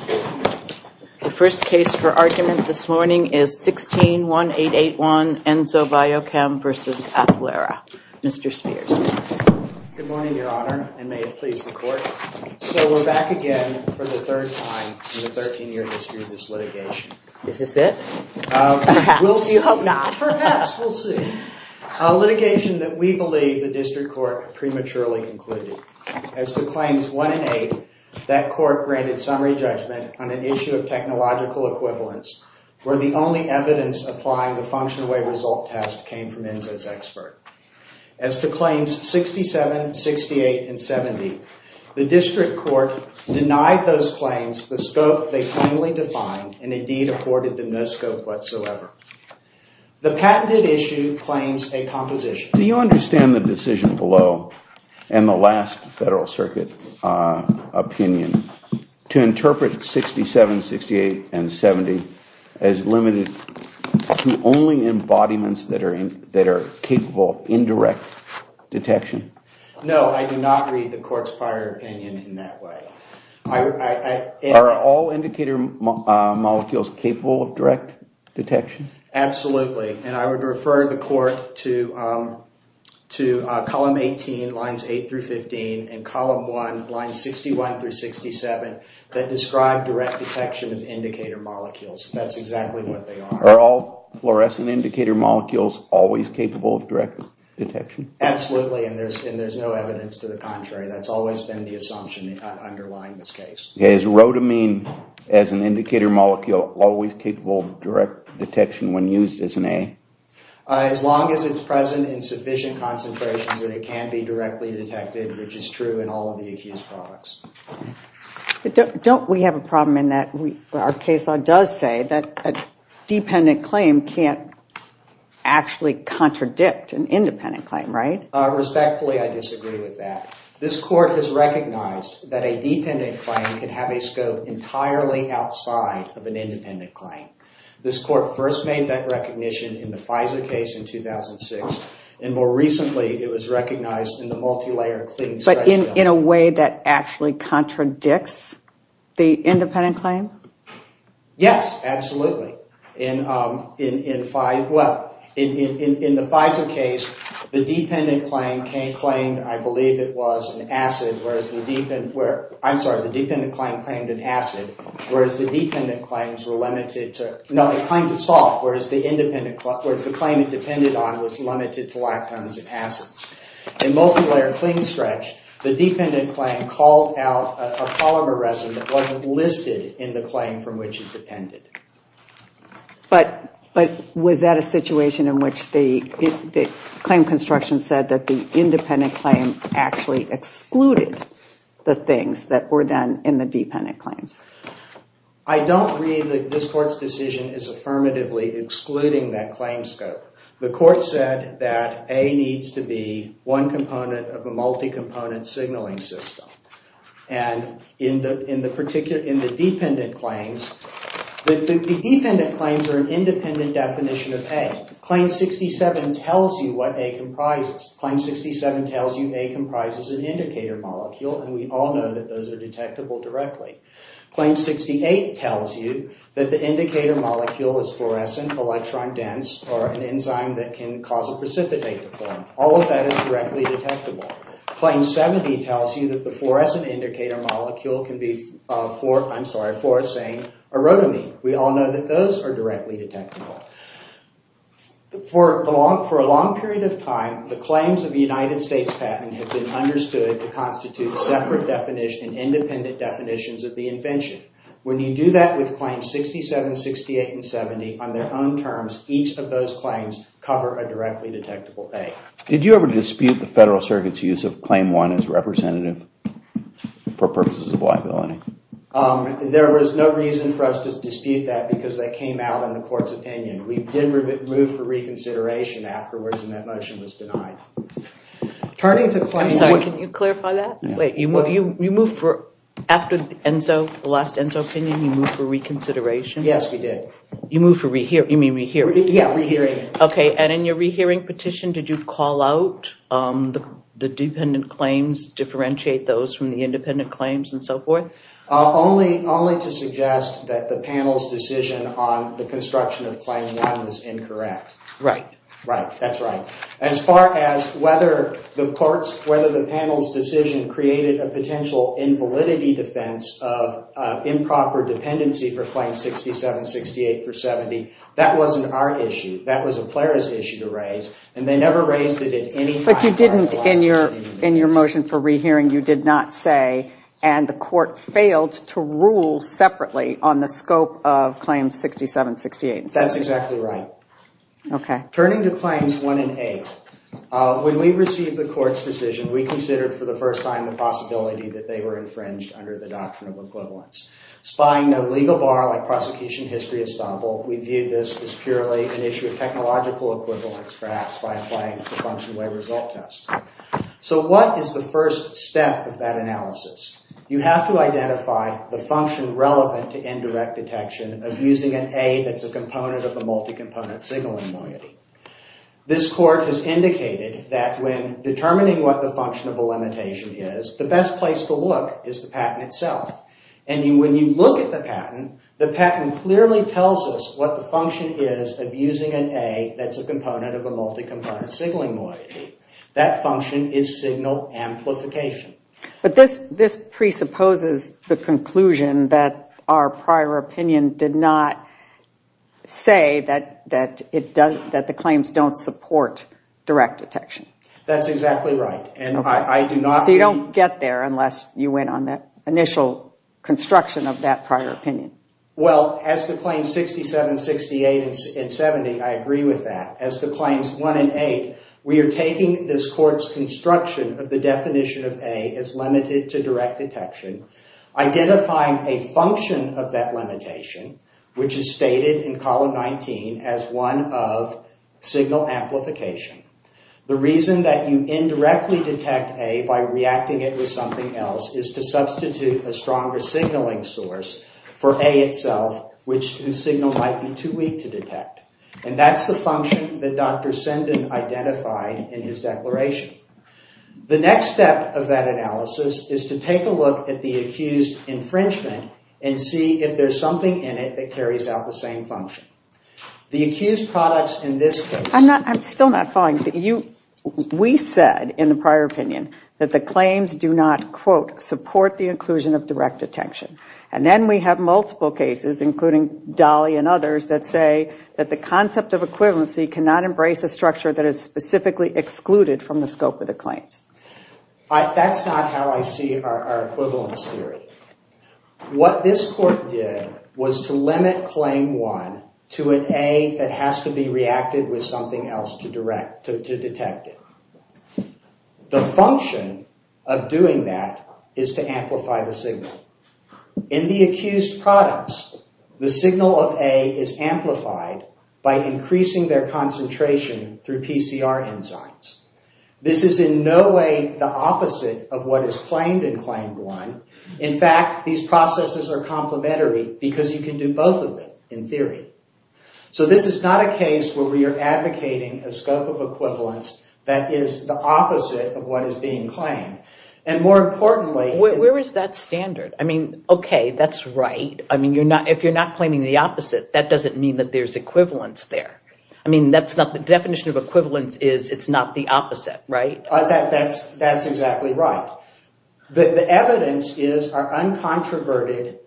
The first case for argument this morning is 16-1881 Enzo Biochem v. Applera. Mr. Spears. Good morning, Your Honor, and may it please the Court. So we're back again for the third time in the 13-year history of this litigation. Is this it? Perhaps. We hope not. Perhaps. We'll see. A litigation that we believe the District Court prematurely concluded. As to Claims 1 and 8, that Court granted summary judgment on an issue of technological equivalence, where the only evidence applying the function-away result test came from Enzo's expert. As to Claims 67, 68, and 70, the District Court denied those claims the scope they plainly defined and indeed afforded them no scope whatsoever. The patented issue claims a composition. Do you understand the decision below and the last Federal Circuit opinion to interpret 67, 68, and 70 as limited to only embodiments that are capable of indirect detection? No, I do not read the Court's prior opinion in that way. Are all indicator molecules capable of direct detection? Absolutely, and I would refer the Court to Column 18, Lines 8-15, and Column 1, Lines 61-67, that describe direct detection of indicator molecules. That's exactly what they are. Are all fluorescent indicator molecules always capable of direct detection? Absolutely, and there's no evidence to the contrary. That's always been the assumption underlying this case. Is rhodamine as an indicator molecule always capable of direct detection when used as an aid? As long as it's present in sufficient concentrations that it can be directly detected, which is true in all of the accused products. Don't we have a problem in that our case law does say that a dependent claim can't actually contradict an independent claim, right? Respectfully, I disagree with that. This Court has recognized that a dependent claim can have a scope entirely outside of an independent claim. This Court first made that recognition in the Pfizer case in 2006, and more recently it was recognized in the multi-layer clean stretch bill. But in a way that actually contradicts the independent claim? Yes, absolutely. In the Pfizer case, the dependent claim claimed, I believe it was, an acid, whereas the dependent claim claimed an acid, whereas the dependent claims were limited to... No, it claimed a salt, whereas the claim it depended on was limited to lactones and acids. In multi-layer clean stretch, the dependent claim called out a polymer residue that wasn't listed in the claim from which it depended. But was that a situation in which the claim construction said that the independent claim actually excluded the things that were then in the dependent claims? I don't read that this Court's decision is affirmatively excluding that claim scope. The Court said that A needs to be one component of a multi-component signaling system. In the dependent claims, the dependent claims are an independent definition of A. Claim 67 tells you what A comprises. Claim 67 tells you A comprises an indicator molecule, and we all know that those are detectable directly. Claim 68 tells you that the indicator molecule is fluorescent, electron-dense, or an enzyme that can cause a precipitate to form. All of that is directly detectable. Claim 70 tells you that the fluorescent indicator molecule can be a fluorescent erotome. We all know that those are directly detectable. For a long period of time, the claims of the United States patent have been understood to constitute separate definitions, independent definitions of the invention. When you do that with Claims 67, 68, and 70 on their own terms, each of those claims cover a directly detectable A. Did you ever dispute the Federal Circuit's use of Claim 1 as representative for purposes of liability? There was no reason for us to dispute that because that came out in the Court's opinion. We did move for reconsideration afterwards, and that motion was denied. Can you clarify that? You moved for, after the last ENSO opinion, you moved for reconsideration? Yes, we did. You moved for re-hearing? Yes, re-hearing. In your re-hearing petition, did you call out the dependent claims, differentiate those from the independent claims, and so forth? Only to suggest that the panel's decision on the construction of Claim 1 was incorrect. Right. That's right. As far as whether the panel's decision created a potential invalidity defense of improper dependency for Claim 67, 68, or 70, that wasn't our issue. That was a Plera's issue to raise, and they never raised it at any time. But you didn't, in your motion for re-hearing, you did not say, and the Court failed to rule separately on the scope of Claims 67, 68, and 70. That's exactly right. Okay. Turning to Claims 1 and 8, when we received the Court's decision, we considered for the first time the possibility that they were infringed under the doctrine of equivalence. Spying no legal bar like prosecution history has done, we viewed this as purely an issue of technological equivalence, perhaps, by applying the function-way result test. So what is the first step of that analysis? You have to identify the function relevant to indirect detection of using an A that's a component of a multi-component signaling moiety. This Court has indicated that when determining what the function of a limitation is, the best place to look is the patent itself. And when you look at the patent, the patent clearly tells us what the function is of using an A that's a component of a multi-component signaling moiety. That function is signal amplification. But this presupposes the conclusion that our prior opinion did not say that the claims don't support direct detection. That's exactly right. So you don't get there unless you went on the initial construction of that prior opinion. Well, as to Claims 67, 68, and 70, I agree with that. As to Claims 1 and 8, we are taking this Court's construction of the definition of A as limited to direct detection, identifying a function of that limitation, which is stated in Column 19 as one of signal amplification. The reason that you indirectly detect A by reacting it with something else is to substitute a stronger signaling source for A itself, whose signal might be too weak to detect. And that's the function that Dr. Sinden identified in his declaration. The next step of that analysis is to take a look at the accused infringement and see if there's something in it that carries out the same function. The accused products in this case... I'm still not following. We said in the prior opinion that the claims do not, quote, support the inclusion of direct detection. And then we have multiple cases, including Dolly and others, that say that the concept of equivalency cannot embrace a structure that is specifically excluded from the scope of the claims. That's not how I see our equivalence theory. What this Court did was to limit Claim 1 to an A that has to be reacted with something else to detect it. The function of doing that is to amplify the signal. In the accused products, the signal of A is amplified by increasing their concentration through PCR enzymes. This is in no way the opposite of what is claimed in Claim 1. In fact, these processes are complementary because you can do both of them, in theory. This is not a case where we are advocating a scope of equivalence that is the opposite of what is being claimed. More importantly... Where is that standard? Okay, that's right. If you're not claiming the opposite, that doesn't mean that there's equivalence there. The definition of equivalence is it's not the opposite, right? That's exactly right. The evidence is our uncontroverted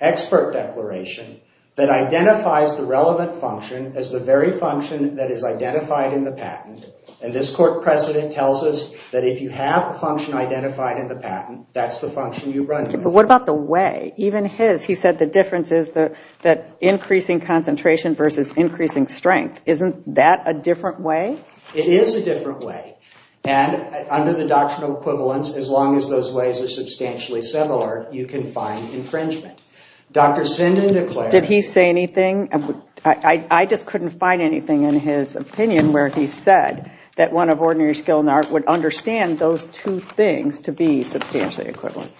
expert declaration that identifies the relevant function as the very function that is identified in the patent. And this Court precedent tells us that if you have a function identified in the patent, that's the function you run with. But what about the way? Even his, he said the difference is that increasing concentration versus increasing strength. Isn't that a different way? It is a different way. And under the doctrinal equivalence, as long as those ways are substantially similar, you can find infringement. Dr. Sinden declared... Did he say anything? I just couldn't find anything in his opinion where he said that one of ordinary skill and art would understand those two things to be substantially equivalent.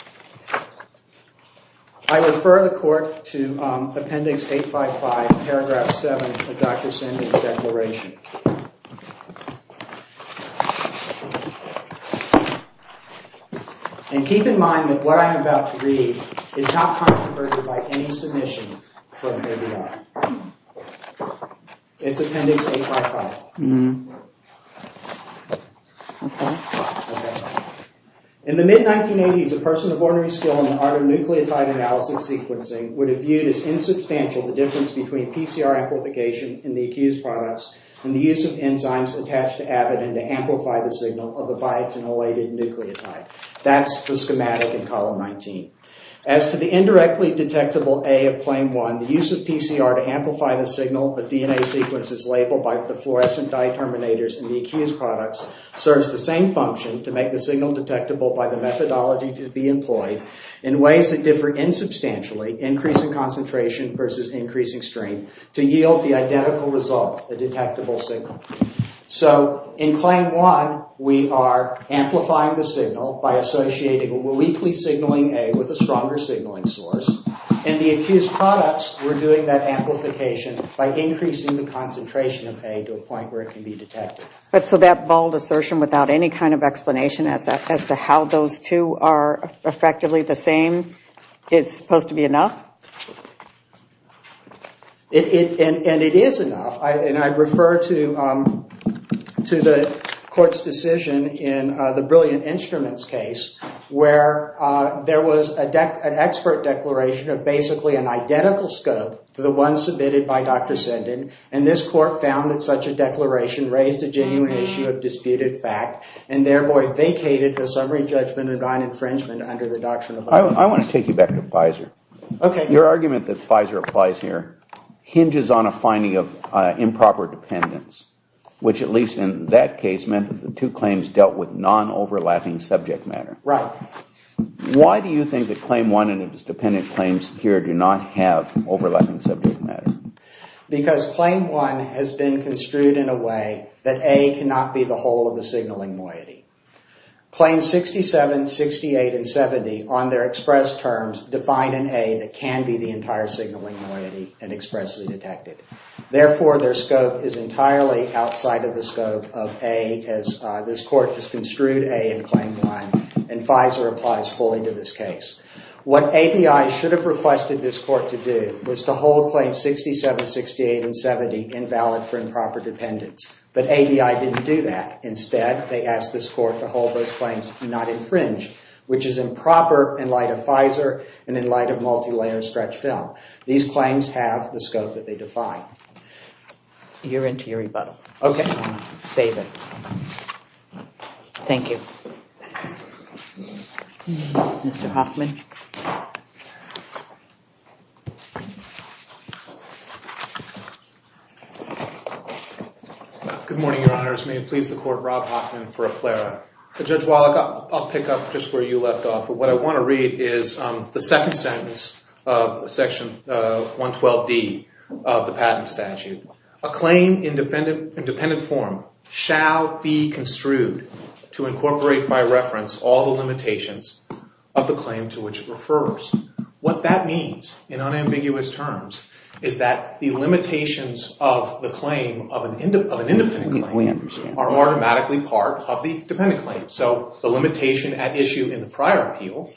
I refer the Court to Appendix 855, Paragraph 7 of Dr. Sinden's declaration. And keep in mind that what I'm about to read is not controverted by any submission from ABI. It's Appendix 855. In the mid-1980s, a person of ordinary skill in the art of nucleotide analysis sequencing would have viewed as insubstantial the difference between PCR amplification in the accused products and the use of enzymes attached to AVID and to amplify the signal of the biotinylated nucleotide. That's the schematic in Column 19. As to the indirectly detectable A of Claim 1, the use of PCR to amplify the signal of the DNA sequences labeled by the fluorescent dieterminators in the accused products serves the same function to make the signal detectable by the methodology to be employed in ways that differ insubstantially, increasing concentration versus increasing strength, to yield the identical result, a detectable signal. So in Claim 1, we are amplifying the signal by associating a weakly signaling A with a stronger signaling source. In the accused products, we're doing that amplification by increasing the concentration of A to a point where it can be detected. So that bold assertion without any kind of explanation as to how those two are effectively the same is supposed to be enough? And it is enough. And I refer to the court's decision in the Brilliant Instruments case where there was an expert declaration of basically an identical scope to the one submitted by Dr. Senden. And this court found that such a declaration raised a genuine issue of disputed fact and therefore vacated the summary judgment of non-infringement under the Doctrine of Violence. I want to take you back to Pfizer. Your argument that Pfizer applies here hinges on a finding of improper dependence, which at least in that case meant that the two claims dealt with non-overlapping subject matter. Right. Why do you think that Claim 1 and its dependent claims here do not have overlapping subject matter? Because Claim 1 has been construed in a way that A cannot be the whole of the signaling moiety. Claims 67, 68, and 70 on their express terms define an A that can be the entire signaling moiety and expressly detected. Therefore, their scope is entirely outside of the scope of A as this court has construed A in Claim 1. And Pfizer applies fully to this case. What ABI should have requested this court to do was to hold Claims 67, 68, and 70 invalid for improper dependence. But ABI didn't do that. Instead, they asked this court to hold those claims not infringed, which is improper in light of Pfizer and in light of multilayer stretch film. These claims have the scope that they define. You're into your rebuttal. Okay. Save it. Thank you. Mr. Hoffman. Good morning, Your Honors. May it please the court, Rob Hoffman for a plera. Judge Wallach, I'll pick up just where you left off. What I want to read is the second sentence of Section 112D of the patent statute. A claim in dependent form shall be construed to incorporate by reference all the limitations of the claim to which it refers. What that means in unambiguous terms is that the limitations of the claim of an independent claim are automatically part of the dependent claim. So the limitation at issue in the prior appeal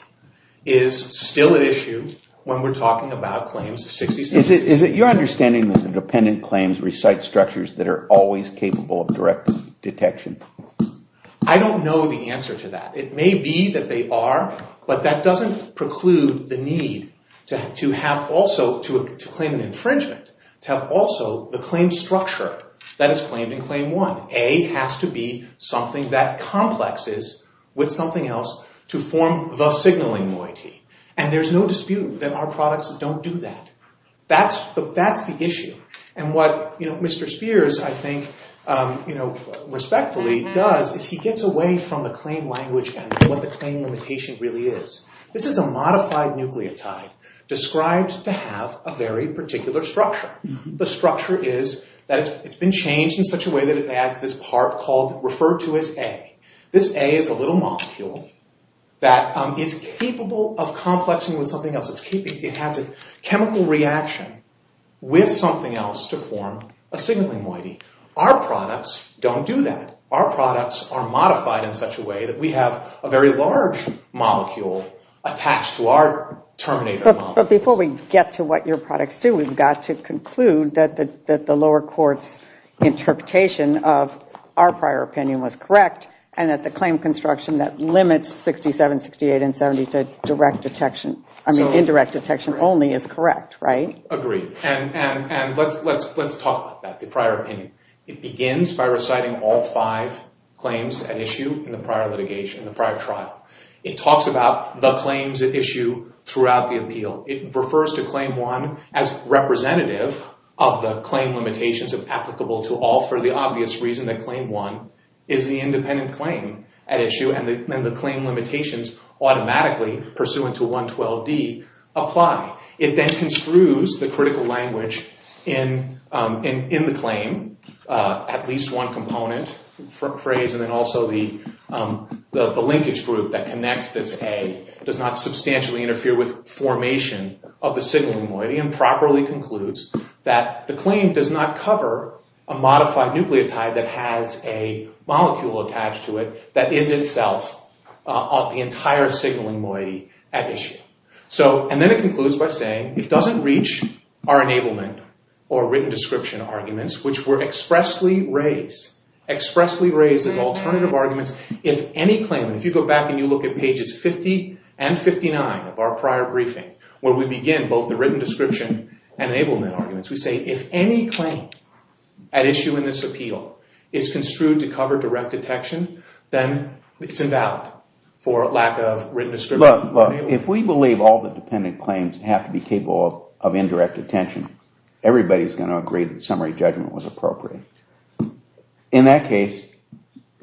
is still at issue when we're talking about Claims 67, 68, and 70. Is it your understanding that the dependent claims recite structures that are always capable of direct detection? I don't know the answer to that. It may be that they are, but that doesn't preclude the need to claim an infringement, to have also the claim structure that is claimed in Claim 1. A has to be something that complexes with something else to form the signaling moiety. And there's no dispute that our products don't do that. That's the issue. And what Mr. Spears, I think, respectfully does is he gets away from the claim language and what the claim limitation really is. This is a modified nucleotide described to have a very particular structure. The structure is that it's been changed in such a way that it adds this part called referred to as A. This A is a little molecule that is capable of complexing with something else. It has a chemical reaction with something else to form a signaling moiety. Our products don't do that. Our products are modified in such a way that we have a very large molecule attached to our terminator molecule. But before we get to what your products do, we've got to conclude that the lower court's interpretation of our prior opinion was correct and that the claim construction that limits 67, 68, and 70 to indirect detection only is correct, right? Agreed. And let's talk about that, the prior opinion. It begins by reciting all five claims at issue in the prior litigation, the prior trial. It talks about the claims at issue throughout the appeal. It refers to Claim 1 as representative of the claim limitations of applicable to all for the obvious reason that Claim 1 is the independent claim at issue and the claim limitations automatically pursuant to 112D apply. It then construes the critical language in the claim, at least one component phrase, and then also the linkage group that connects this A does not substantially interfere with formation of the signaling moiety that the claim does not cover a modified nucleotide that has a molecule attached to it that is itself the entire signaling moiety at issue. And then it concludes by saying, it doesn't reach our enablement or written description arguments, which were expressly raised as alternative arguments. If any claim, if you go back and you look at pages 50 and 59 of our prior briefing, where we begin both the written description and enablement arguments, we say if any claim at issue in this appeal is construed to cover direct detection, then it's invalid for lack of written description. Look, if we believe all the dependent claims have to be capable of indirect attention, everybody's going to agree that summary judgment was appropriate. In that case,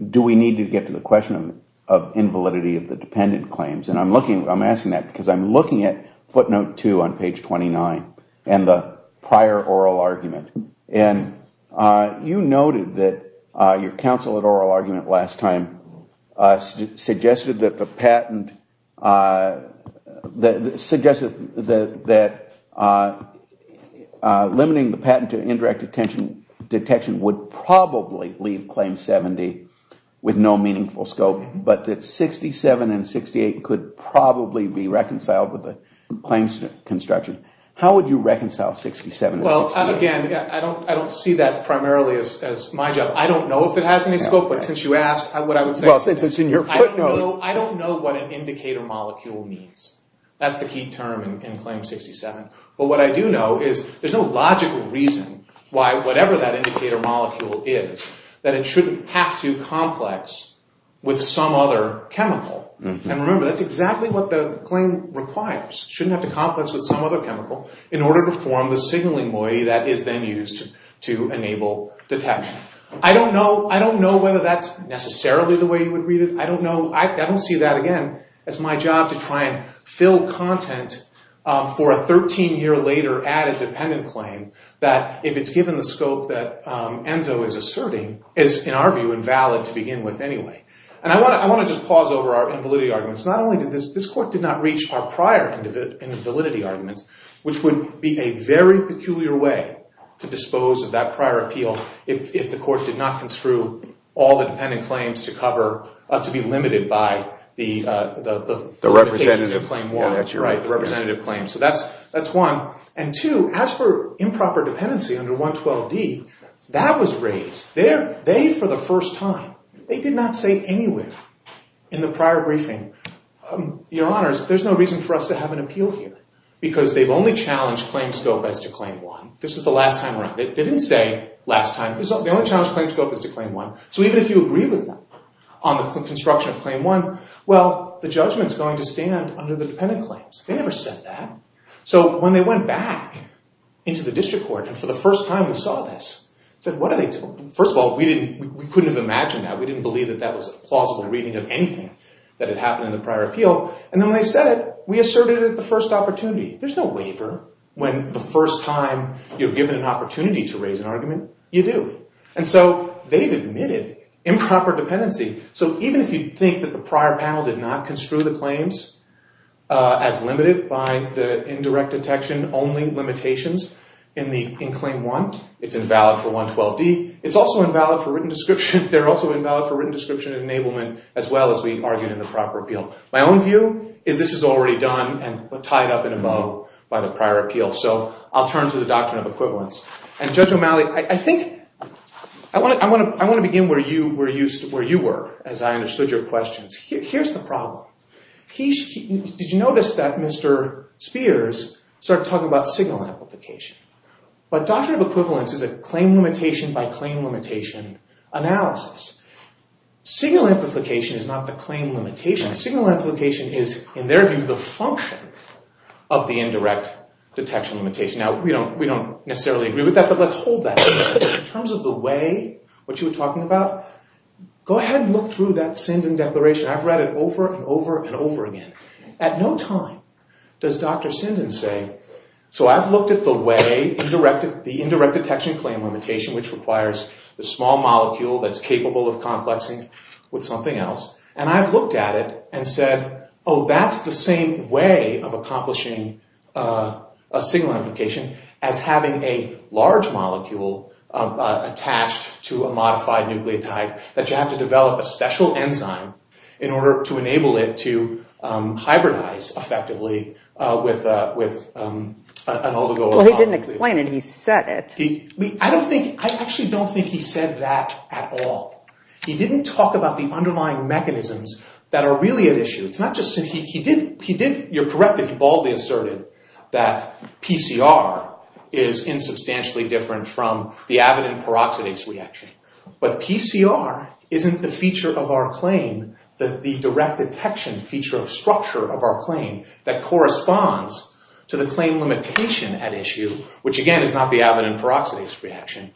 do we need to get to the question of invalidity of the dependent claims? I'm asking that because I'm looking at footnote two on page 29 and the prior oral argument. And you noted that your counsel at oral argument last time suggested that the patent, that limiting the patent to indirect detection would probably leave claim 70 with no meaningful scope, but that 67 and 68 could probably be reconciled with the claims construction. How would you reconcile 67 and 68? Well, again, I don't see that primarily as my job. I don't know if it has any scope, but since you asked what I would say. Well, since it's in your footnote. I don't know what an indicator molecule means. That's the key term in claim 67. But what I do know is there's no logical reason why whatever that indicator molecule is, that it shouldn't have to complex with some other chemical. And remember, that's exactly what the claim requires. It shouldn't have to complex with some other chemical in order to form the signaling moiety that is then used to enable detection. I don't know whether that's necessarily the way you would read it. I don't know. I don't see that, again, as my job to try and fill content for a 13-year later added dependent claim that, if it's given the scope that Enzo is asserting, is, in our view, invalid to begin with anyway. And I want to just pause over our invalidity arguments. Not only did this court did not reach our prior invalidity arguments, which would be a very peculiar way to dispose of that prior appeal if the court did not construe all the dependent claims to be limited by the representative claim. So that's one. And two, as for improper dependency under 112d, that was raised. They, for the first time, they did not say anywhere in the prior briefing, your honors, there's no reason for us to have an appeal here because they've only challenged claim scope as to claim one. This is the last time around. They didn't say last time. They only challenged claim scope as to claim one. So even if you agree with them on the construction of claim one, well, the judgment's going to stand under the dependent claims. They never said that. So when they went back into the district court, and for the first time we saw this, said, what are they talking about? First of all, we couldn't have imagined that. We didn't believe that that was a plausible reading of anything that had happened in the prior appeal. And then when they said it, we asserted it at the first opportunity. There's no waiver when the first time you're given an opportunity to raise an argument, you do. And so they've admitted improper dependency. So even if you think that the prior panel did not construe the claims as limited by the indirect detection only limitations in claim one, it's invalid for 112D. It's also invalid for written description. They're also invalid for written description and enablement as well as we argued in the proper appeal. My own view is this is already done and tied up in a bow by the prior appeal. So I'll turn to the doctrine of equivalence. And Judge O'Malley, I want to begin where you were as I understood your questions. Here's the problem. Did you notice that Mr. Spears started talking about signal amplification? But doctrine of equivalence is a claim limitation by claim limitation analysis. Signal amplification is not the claim limitation. Signal amplification is, in their view, the function of the indirect detection limitation. Now, we don't necessarily agree with that, but let's hold that. In terms of the way what you were talking about, go ahead and look through that Sindon Declaration. I've read it over and over and over again. At no time does Dr. Sindon say, so I've looked at the way, the indirect detection claim limitation, which requires the small molecule that's capable of complexing with something else, and I've looked at it and said, oh, that's the same way of accomplishing a signal amplification as having a large molecule attached to a modified nucleotide that you have to develop a special enzyme in order to enable it to hybridize effectively with an oligopolymer. Well, he didn't explain it. He said it. I actually don't think he said that at all. He didn't talk about the underlying mechanisms that are really at issue. You're correct that he baldly asserted that PCR is insubstantially different from the avidin peroxidase reaction, but PCR isn't the feature of our claim, the direct detection feature of structure of our claim, that corresponds to the claim limitation at issue, which again is not the avidin peroxidase reaction,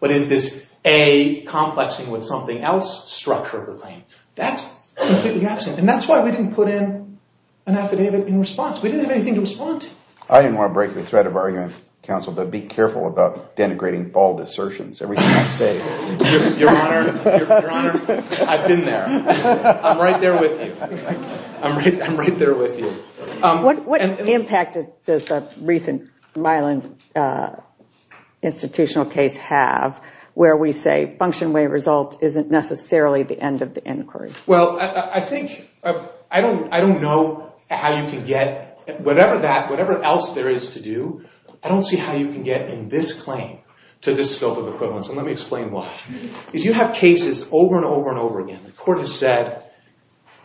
but is this A, complexing with something else, structure of the claim. That's completely absent, and that's why we didn't put in an affidavit in response. We didn't have anything to respond to. I didn't want to break the thread of argument, counsel, but be careful about denigrating bald assertions. Everything I say, Your Honor, I've been there. I'm right there with you. I'm right there with you. What impact does the recent Milan institutional case have, where we say function way result isn't necessarily the end of the inquiry? Well, I don't know how you can get, whatever else there is to do, I don't see how you can get in this claim to this scope of equivalence, and let me explain why. If you have cases over and over and over again, the court has said,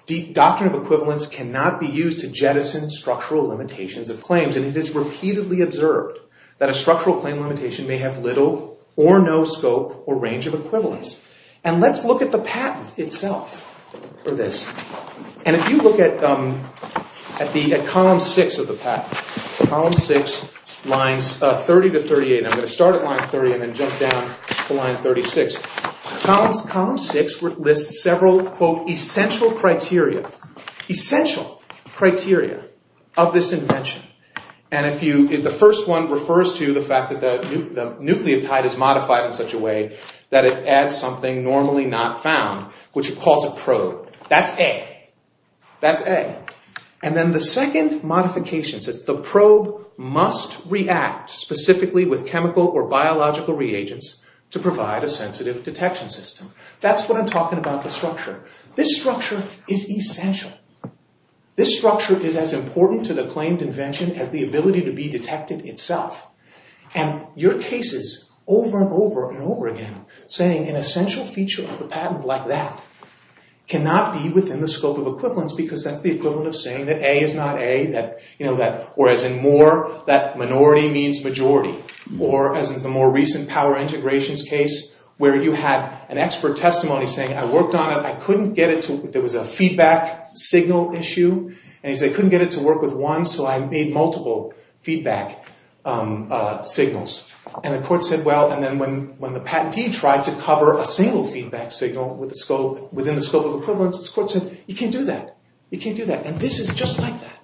the doctrine of equivalence cannot be used to jettison structural limitations of claims, and it is repeatedly observed that a structural claim limitation may have little or no scope or range of equivalence. And let's look at the patent itself for this, and if you look at column six of the patent, column six, lines 30 to 38, and I'm going to start at line 30 and then jump down to line 36. Column six lists several, quote, essential criteria, essential criteria of this invention. And if you, the first one refers to the fact that the nucleotide is modified in such a way that it adds something normally not found, which it calls a probe. That's A. That's A. And then the second modification says the probe must react specifically with chemical or biological reagents to provide a sensitive detection system. That's what I'm talking about the structure. This structure is essential. This structure is as important to the claimed invention as the ability to be detected itself. And your cases over and over and over again saying an essential feature of the patent like that cannot be within the scope of equivalence because that's the equivalent of saying that A is not A, or as in more, that minority means majority, or as in the more recent power integrations case where you had an expert testimony saying, I worked on it, I couldn't get it to, there was a feedback signal issue, and he said, I couldn't get it to work with one, so I made multiple feedback signals. And the court said, well, and then when the patentee tried to cover a single feedback signal within the scope of equivalence, this court said, you can't do that. You can't do that. And this is just like that.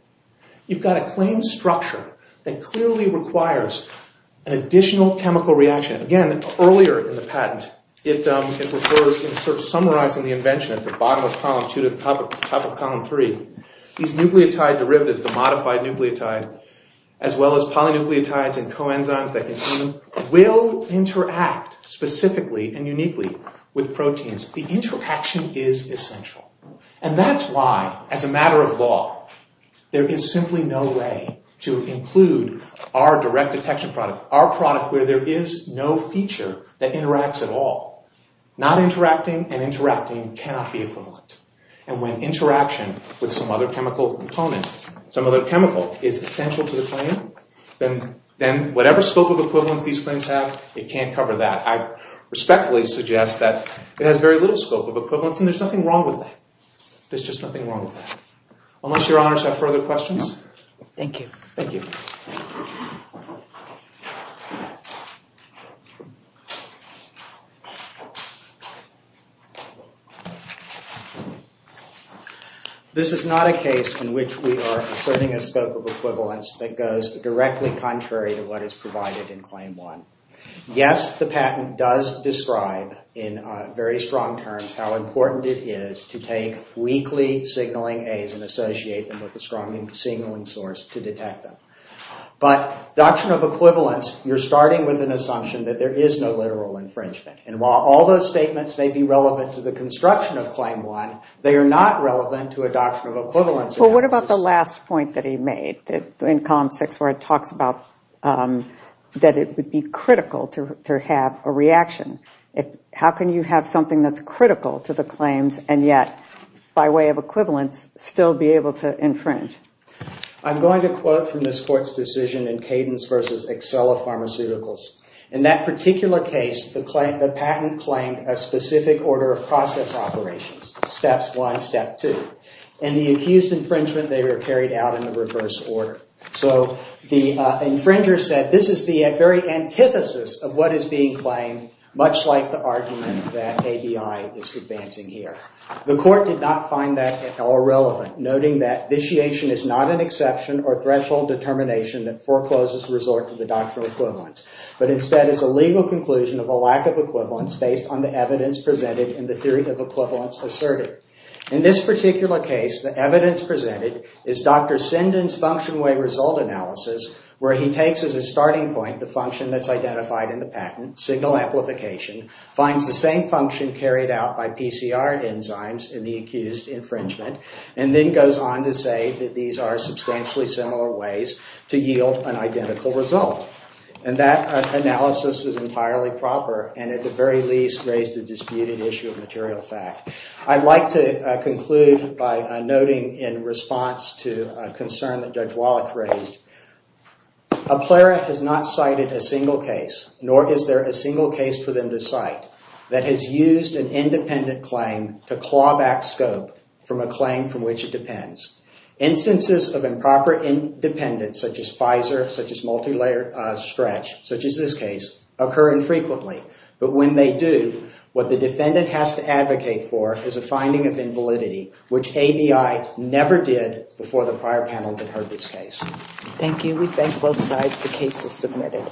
You've got a claimed structure that clearly requires an additional chemical reaction. Again, earlier in the patent, it refers in sort of summarizing the invention at the bottom of column 2 to the top of column 3. These nucleotide derivatives, the modified nucleotide, as well as polynucleotides and coenzymes that you see will interact specifically and uniquely with proteins. The interaction is essential. And that's why, as a matter of law, there is simply no way to include our direct detection product, our product where there is no feature that interacts at all. Not interacting and interacting cannot be equivalent. And when interaction with some other chemical component, some other chemical, is essential to the claim, then whatever scope of equivalence these claims have, it can't cover that. I respectfully suggest that it has very little scope of equivalence, and there's nothing wrong with that. There's just nothing wrong with that. Unless your honors have further questions. Thank you. Thank you. This is not a case in which we are asserting a scope of equivalence that goes directly contrary to what is provided in Claim 1. Yes, the patent does describe in very strong terms how important it is to take weakly signaling A's and associate them with a strong signaling source to detect them. But doctrine of equivalence, you're starting with an assumption that there is no literal infringement. And while all those statements may be relevant to the construction of Claim 1, they are not relevant to a doctrine of equivalence analysis. But what about the last point that he made in Column 6 where it talks about that it would be critical to have a reaction? How can you have something that's critical to the claims and yet, by way of equivalence, still be able to infringe? I'm going to quote from this Court's decision in Cadence v. Accella Pharmaceuticals. In that particular case, the patent claimed a specific order of process operations, steps 1, step 2. In the accused infringement, they were carried out in the reverse order. So the infringer said this is the very antithesis of what is being claimed, much like the argument that ABI is advancing here. The Court did not find that at all relevant, noting that vitiation is not an exception or threshold determination that forecloses resort to the doctrinal equivalence, but instead is a legal conclusion of a lack of equivalence based on the evidence presented and the theory of equivalence asserted. In this particular case, the evidence presented is Dr. Sinden's function-way result analysis where he takes as a starting point the function that's identified in the patent, signal amplification, finds the same function carried out by PCR enzymes in the accused infringement, and then goes on to say that these are substantially similar ways to yield an identical result. And that analysis was entirely proper and, at the very least, raised a disputed issue of material fact. I'd like to conclude by noting in response to a concern that Judge Wallach raised. A plera has not cited a single case, nor is there a single case for them to cite, that has used an independent claim to claw back scope from a claim from which it depends. Instances of improper independence, such as FISR, such as multilayer stretch, such as this case, occur infrequently. But when they do, what the defendant has to advocate for is a finding of invalidity, which ABI never did before the prior panel that heard this case. Thank you. We thank both sides. The case is submitted.